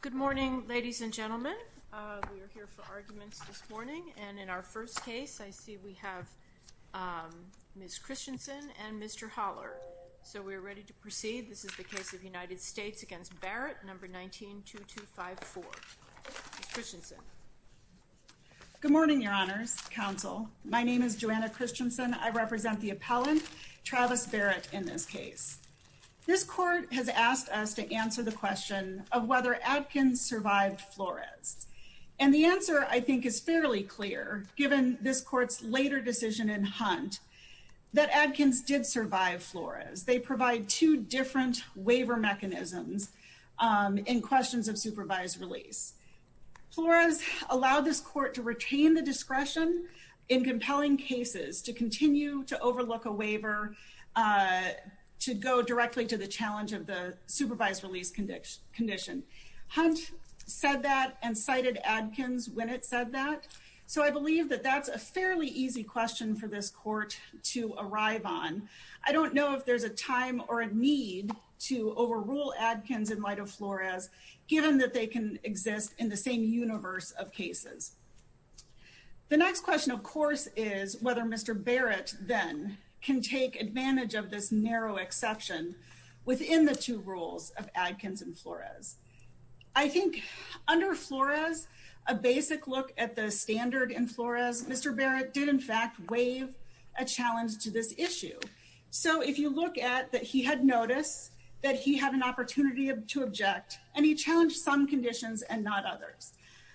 Good morning, ladies and gentlemen And in our first case I see we have Miss Christensen and mr. Holler. So we're ready to proceed. This is the case of United States against Barrett number 19 2 2 5 4 Good morning, your honors counsel. My name is Joanna Christensen. I represent the appellant Travis Barrett in this case This court has asked us to answer the question of whether Adkins survived Flores and The answer I think is fairly clear given this court's later decision in hunt That Adkins did survive Flores. They provide two different waiver mechanisms in questions of supervised release Flores allowed this court to retain the discretion in compelling cases to continue to overlook a waiver To go directly to the challenge of the supervised release condition condition Hunt said that and cited Adkins when it said that so I believe that that's a fairly easy question for this court To arrive on I don't know if there's a time or a need to overrule Adkins in light of Flores Given that they can exist in the same universe of cases The next question of course is whether mr Barrett then can take advantage of this narrow exception within the two rules of Adkins and Flores I Think under Flores a basic look at the standard in Flores. Mr Barrett did in fact waive a challenge to this issue So if you look at that, he had noticed that he had an opportunity to object and he challenged some conditions and not others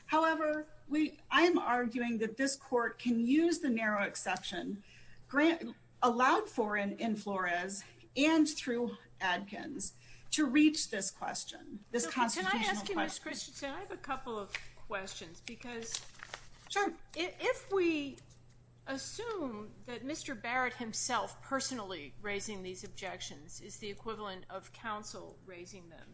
However, we I am arguing that this court can use the narrow exception Grant allowed for an in Flores and through Adkins to reach this question this Questions because Sure, if we Assume that mr. Barrett himself personally raising these objections is the equivalent of counsel raising them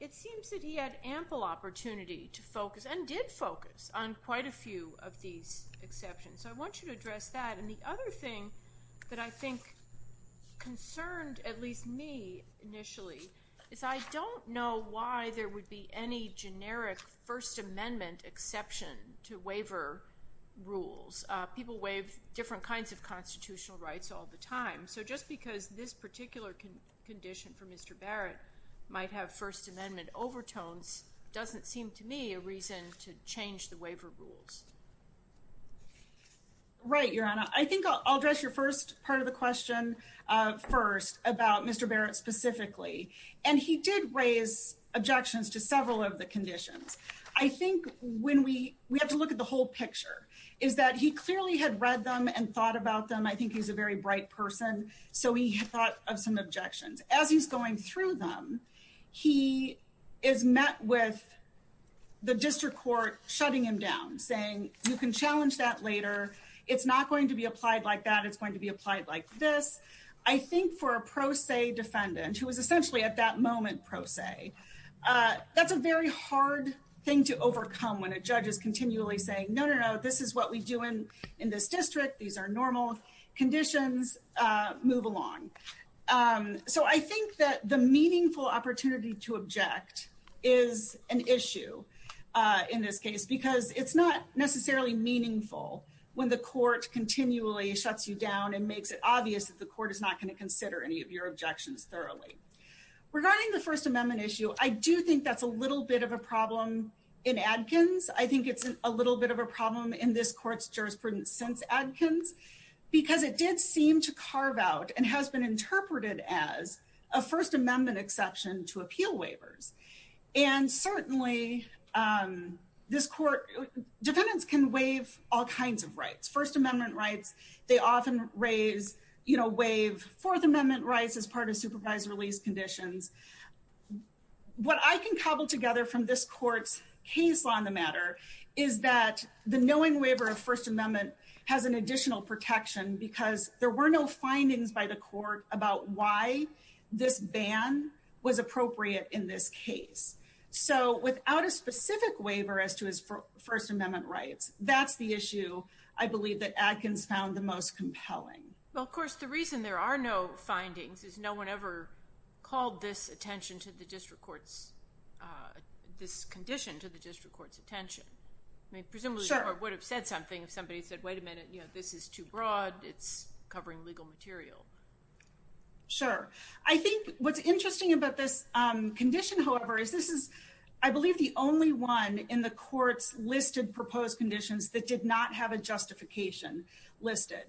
It seems that he had ample opportunity to focus and did focus on quite a few of these Exceptions. I want you to address that and the other thing that I think Concerned at least me Initially is I don't know why there would be any generic First Amendment exception to waiver Rules people waive different kinds of constitutional rights all the time. So just because this particular can condition for mr First-amendment overtones doesn't seem to me a reason to change the waiver rules Right your honor, I think I'll address your first part of the question First about mr. Barrett specifically and he did raise Objections to several of the conditions I think when we we have to look at the whole picture is that he clearly had read them and thought about them I think he's a very bright person. So he thought of some objections as he's going through them he is met with The district court shutting him down saying you can challenge that later. It's not going to be applied like that It's going to be applied like this. I think for a pro se defendant who was essentially at that moment pro se That's a very hard thing to overcome when a judge is continually saying no. No, this is what we do in in this district These are normal conditions move along So I think that the meaningful opportunity to object is an issue In this case because it's not necessarily meaningful When the court continually shuts you down and makes it obvious that the court is not going to consider any of your objections thoroughly Regarding the First Amendment issue. I do think that's a little bit of a problem in Adkins I think it's a little bit of a problem in this courts jurisprudence since Adkins Because it did seem to carve out and has been interpreted as a First Amendment exception to appeal waivers and certainly this court Defendants can waive all kinds of rights First Amendment rights They often raise, you know waive Fourth Amendment rights as part of supervised release conditions What I can cobble together from this court's case on the matter Is that the knowing waiver of First Amendment has an additional protection because there were no findings by the court about why? This ban was appropriate in this case So without a specific waiver as to his First Amendment rights, that's the issue I believe that Adkins found the most compelling. Well, of course the reason there are no findings is no one ever called this attention to the district courts This condition to the district courts attention I mean presumably would have said something if somebody said wait a minute, you know, this is too broad. It's covering legal material Sure. I think what's interesting about this Condition, however, is this is I believe the only one in the courts listed proposed conditions that did not have a justification Listed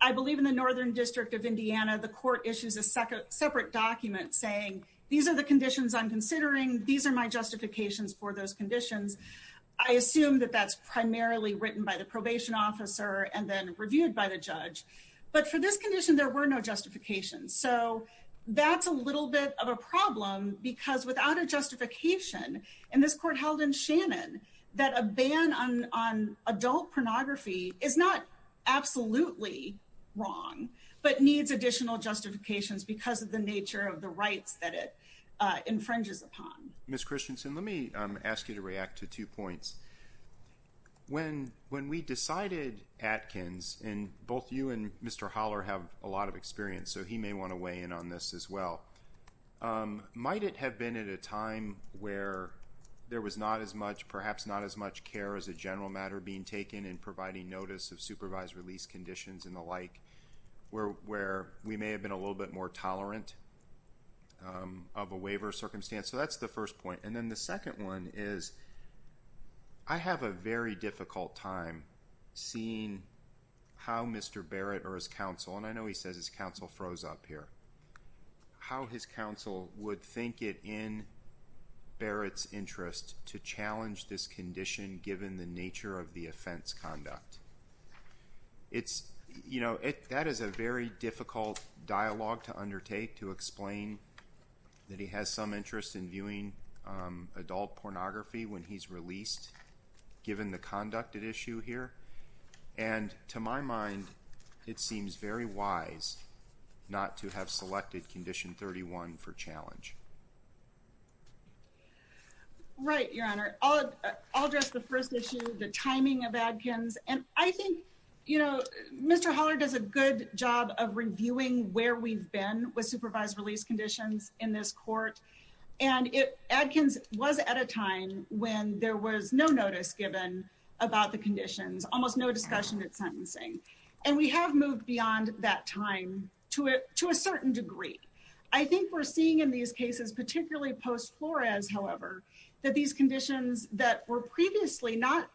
I believe in the Northern District of Indiana the court issues a second separate document saying these are the conditions Considering these are my justifications for those conditions I assume that that's primarily written by the probation officer and then reviewed by the judge But for this condition there were no justifications so that's a little bit of a problem because without a Justification and this court held in Shannon that a ban on on adult pornography is not Absolutely wrong, but needs additional justifications because of the nature of the rights that it Infringes upon miss Christensen. Let me ask you to react to two points When when we decided Atkins and both you and mr. Holler have a lot of experience So he may want to weigh in on this as well Might it have been at a time where? There was not as much perhaps not as much care as a general matter being taken in providing notice of supervised release conditions and the Like we're where we may have been a little bit more tolerant Of a waiver circumstance, so that's the first point and then the second one is I Have a very difficult time seeing How mr. Barrett or his counsel and I know he says his counsel froze up here How his counsel would think it in? Barrett's interest to challenge this condition given the nature of the offense conduct It's you know it that is a very difficult dialogue to undertake to explain That he has some interest in viewing adult pornography when he's released given the conduct at issue here and To my mind it seems very wise Not to have selected condition 31 for challenge Right Your honor, I'll address the first issue the timing of Atkins and I think you know, mr Holler does a good job of reviewing where we've been with supervised release conditions in this court and It Atkins was at a time when there was no notice given about the conditions almost no discussion It's sentencing and we have moved beyond that time to it to a certain degree I think we're seeing in these cases particularly post Flores However that these conditions that were previously not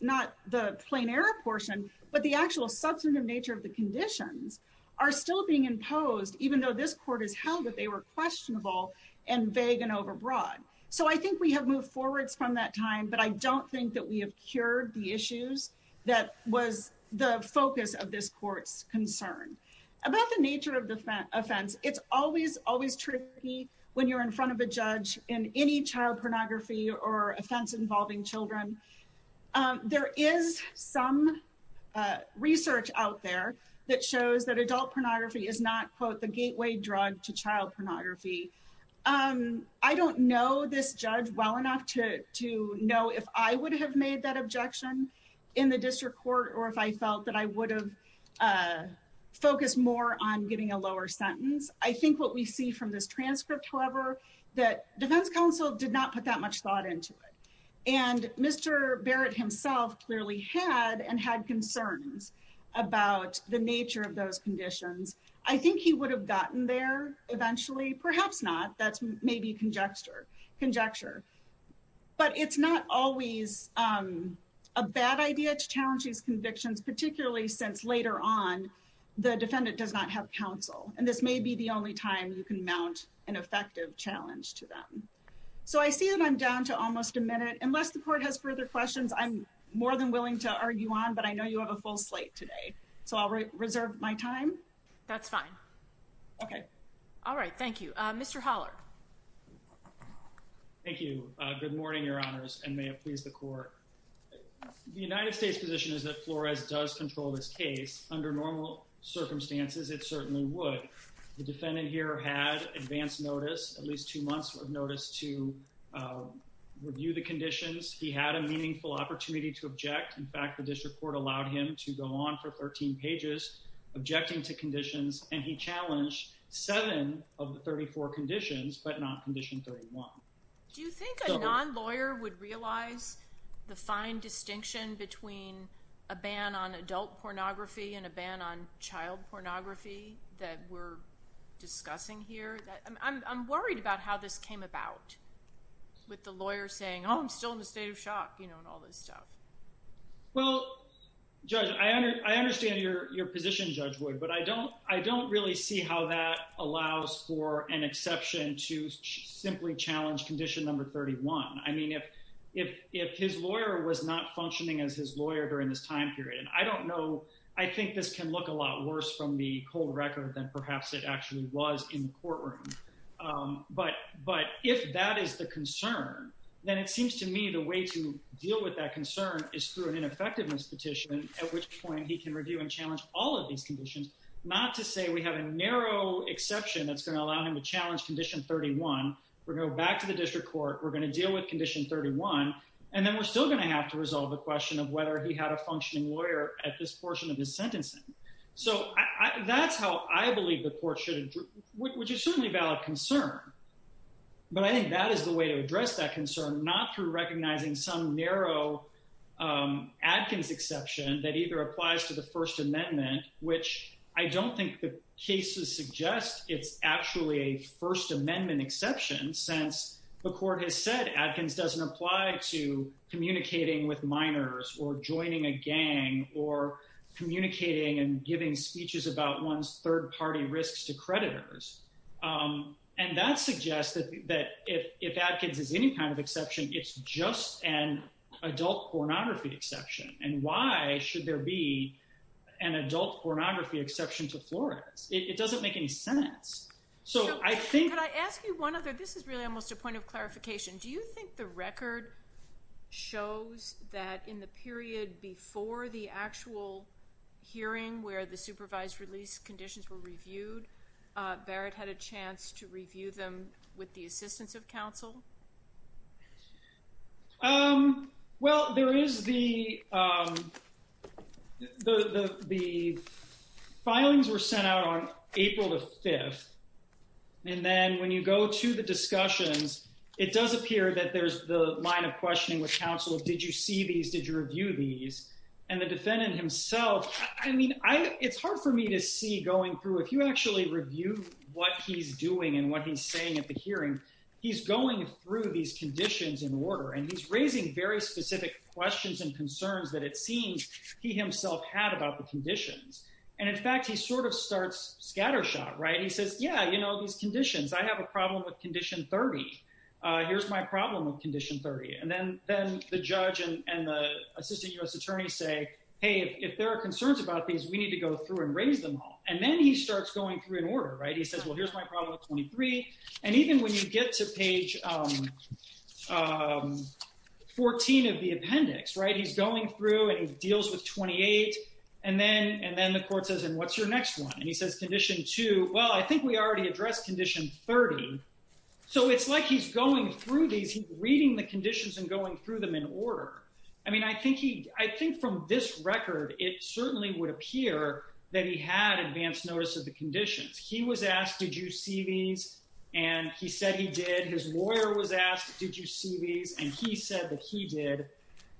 not the plain air portion But the actual substantive nature of the conditions are still being imposed even though this court is held that they were Questionable and vague and overbroad so I think we have moved forwards from that time But I don't think that we have cured the issues that was the focus of this courts concern About the nature of the offense It's always always tricky when you're in front of a judge in any child pornography or offense involving children there is some Research out there that shows that adult pornography is not quote the gateway drug to child pornography Um, I don't know this judge well enough to to know if I would have made that objection in the district court, or if I felt that I would have Focused more on getting a lower sentence. I think what we see from this transcript however, that defense counsel did not put that much thought into it and Mr. Barrett himself clearly had and had concerns about the nature of those conditions I think he would have gotten there eventually perhaps not that's maybe conjecture conjecture But it's not always a bad idea to challenge these convictions particularly since later on The defendant does not have counsel and this may be the only time you can mount an effective challenge to them So I see that I'm down to almost a minute unless the court has further questions I'm more than willing to argue on but I know you have a full slate today. So I'll reserve my time. That's fine Okay. All right. Thank you. Mr. Holler Thank you, good morning your honors and may it please the court The United States position is that Flores does control this case under normal Circumstances it certainly would the defendant here had advance notice at least two months of notice to Review the conditions. He had a meaningful opportunity to object. In fact, the district court allowed him to go on for 13 pages Objecting to conditions and he challenged seven of the 34 conditions, but not condition 31 Do you think a non-lawyer would realize the fine distinction between a ban on adult pornography and a ban on child pornography that we're Discussing here. I'm worried about how this came about With the lawyer saying oh, I'm still in the state of shock, you know and all this stuff well Judge I understand your your position judge would but I don't I don't really see how that An exception to Simply challenge condition number 31 I mean if if if his lawyer was not functioning as his lawyer during this time period and I don't know I think this can look a lot worse from the cold record than perhaps it actually was in the courtroom But but if that is the concern Then it seems to me the way to deal with that concern is through an ineffectiveness Petition at which point he can review and challenge all of these conditions not to say we have a narrow Exception that's going to allow him to challenge condition 31. We're going back to the district court We're going to deal with condition 31 and then we're still going to have to resolve the question of whether he had a functioning lawyer At this portion of his sentencing. So that's how I believe the court should which is certainly about a concern But I think that is the way to address that concern not through recognizing some narrow Adkins exception that either applies to the First Amendment which I don't think the cases suggest it's actually a First Amendment exception since the court has said Adkins doesn't apply to communicating with minors or joining a gang or Communicating and giving speeches about one's third-party risks to creditors and that suggests that that if if Adkins is any kind of exception, it's just an Adult pornography exception and why should there be an adult pornography exception to Florida's? It doesn't make any sense. So I think I ask you one other this is really almost a point of clarification Do you think the record? Shows that in the period before the actual Hearing where the supervised release conditions were reviewed Barrett had a chance to review them with the assistance of counsel Um, well there is the The Filings were sent out on April the 5th And then when you go to the discussions, it does appear that there's the line of questioning with counsel Did you see these did you review these and the defendant himself? I mean I it's hard for me to see going through if you actually review what he's doing and what he's saying at the hearing He's going through these conditions in order and he's raising very specific Questions and concerns that it seems he himself had about the conditions and in fact, he sort of starts scattershot, right? He says yeah, you know these conditions. I have a problem with condition 30 Here's my problem with condition 30 and then then the judge and the assistant US attorney say hey If there are concerns about these we need to go through and raise them all and then he starts going through an order, right? 23 and even when you get to page 14 of the appendix, right? He's going through and he deals with 28 and then and then the court says and what's your next one? And he says condition 2. Well, I think we already addressed condition 30 So it's like he's going through these reading the conditions and going through them in order I mean, I think he I think from this record it certainly would appear that he had advanced notice of the conditions He was asked did you see these and he said he did his lawyer was asked Did you see these and he said that he did?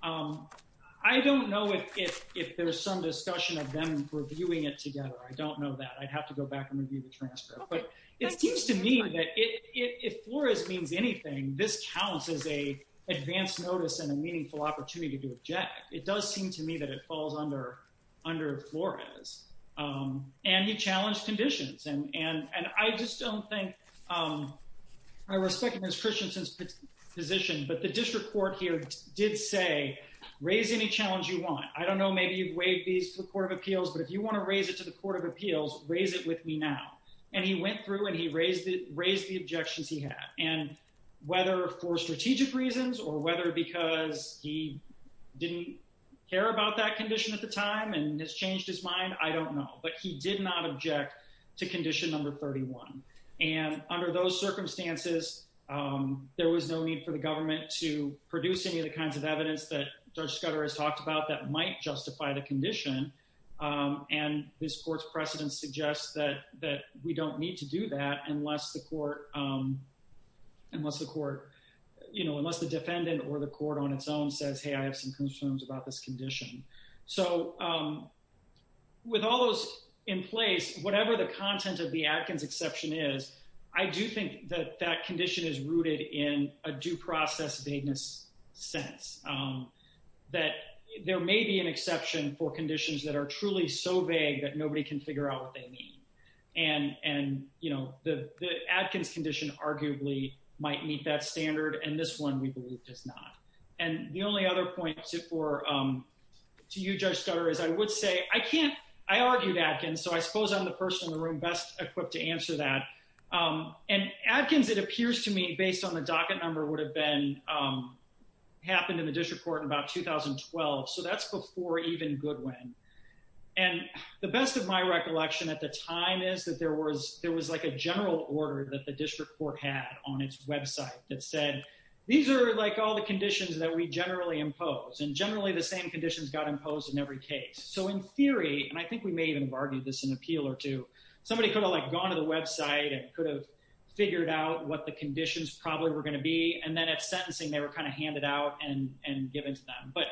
I Don't know if if there's some discussion of them reviewing it together. I don't know that I'd have to go back and review the transcript but it seems to me that it if Flores means anything this counts as a Advanced notice and a meaningful opportunity to object. It does seem to me that it falls under under Flores And he challenged conditions and and and I just don't think I respect Mr. Christensen's position, but the district court here did say raise any challenge you want I don't know Maybe you've waived these to the Court of Appeals but if you want to raise it to the Court of Appeals raise it with me now and he went through and he raised it raised the objections he had and whether for strategic reasons or whether because he Didn't care about that condition at the time and has changed his mind I don't know, but he did not object to condition number 31 and under those circumstances There was no need for the government to produce any of the kinds of evidence that Judge Scudder has talked about that might justify the condition And this court's precedent suggests that that we don't need to do that unless the court Unless the court, you know, unless the defendant or the court on its own says hey, I have some concerns about this condition. So With all those in place, whatever the content of the Adkins exception is I do think that that condition is rooted in a due process vagueness sense that there may be an exception for conditions that are truly so vague that nobody can figure out what they mean and You know the the Adkins condition arguably might meet that standard and this one we believe does not and the only other points it for To you Judge Scudder is I would say I can't I argued Adkins So I suppose I'm the person in the room best equipped to answer that And Adkins it appears to me based on the docket number would have been Happened in the district court in about 2012. So that's before even Goodwin and The best of my recollection at the time is that there was there was like a general order that the district court had on its website That said these are like all the conditions that we generally impose and generally the same conditions got imposed in every case so in theory and I think we may even have argued this an appeal or two somebody could have like gone to the website and figured out what the conditions probably were going to be and then at sentencing they were kind of handed out and and given to them but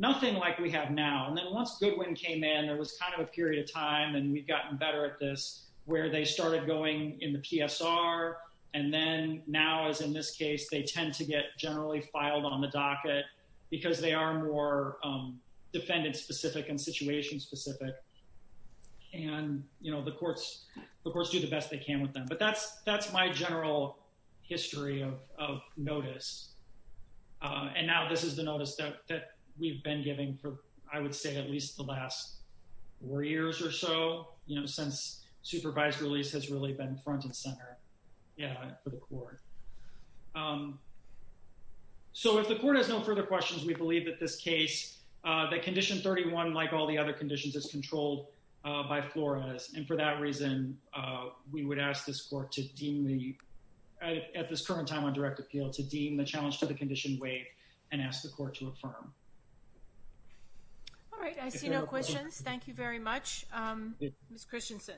Nothing like we have now and then once Goodwin came in there was kind of a period of time and we've gotten better at this Where they started going in the PSR and then now as in this case, they tend to get generally filed on the docket because they are more defendant specific and situation specific And you know the courts the courts do the best they can with them. But that's that's my general history of notice And now this is the notice that we've been giving for I would say at least the last Four years or so, you know since supervised release has really been front and center. Yeah for the court So if the court has no further questions We believe that this case that condition 31 like all the other conditions is controlled by Flores and for that reason we would ask this court to deem the At this current time on direct appeal to deem the challenge to the condition waive and ask the court to affirm All right, I see no questions, thank you very much Miss Christensen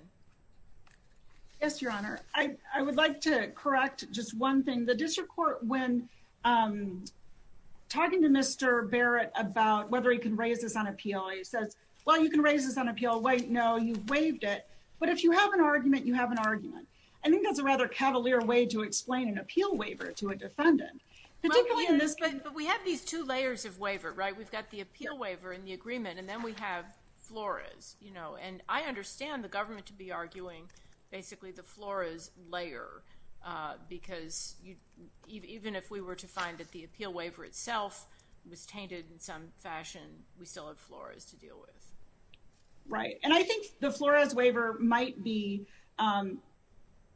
Yes, your honor, I I would like to correct just one thing the district court when Talking to mr. Barrett about whether he can raise this on appeal. He says well you can raise this on appeal Wait, no, you've waived it. But if you have an argument you have an argument I think that's a rather cavalier way to explain an appeal waiver to a defendant But we have these two layers of waiver, right? We've got the appeal waiver in the agreement and then we have Flores, you know, and I understand the government to be arguing basically the Flores layer because Even if we were to find that the appeal waiver itself was tainted in some fashion. We still have Flores to deal with right, and I think the Flores waiver might be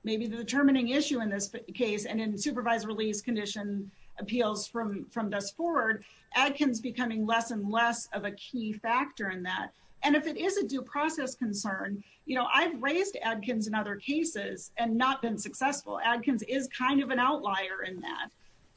Maybe the determining issue in this case and in supervised release condition appeals from from this forward Adkins becoming less and less of a key factor in that and if it is a due process concern, you know I've raised Adkins in other cases and not been successful Adkins is kind of an outlier in that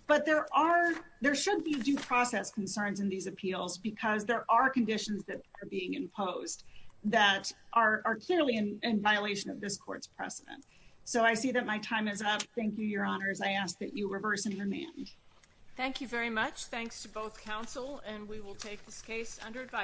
But there are there should be due process concerns in these appeals because there are conditions that are being imposed That are clearly in violation of this court's precedent, so I see that my time is up. Thank you your honors I ask that you reverse and remand Thank you very much. Thanks to both counsel and we will take this case under advice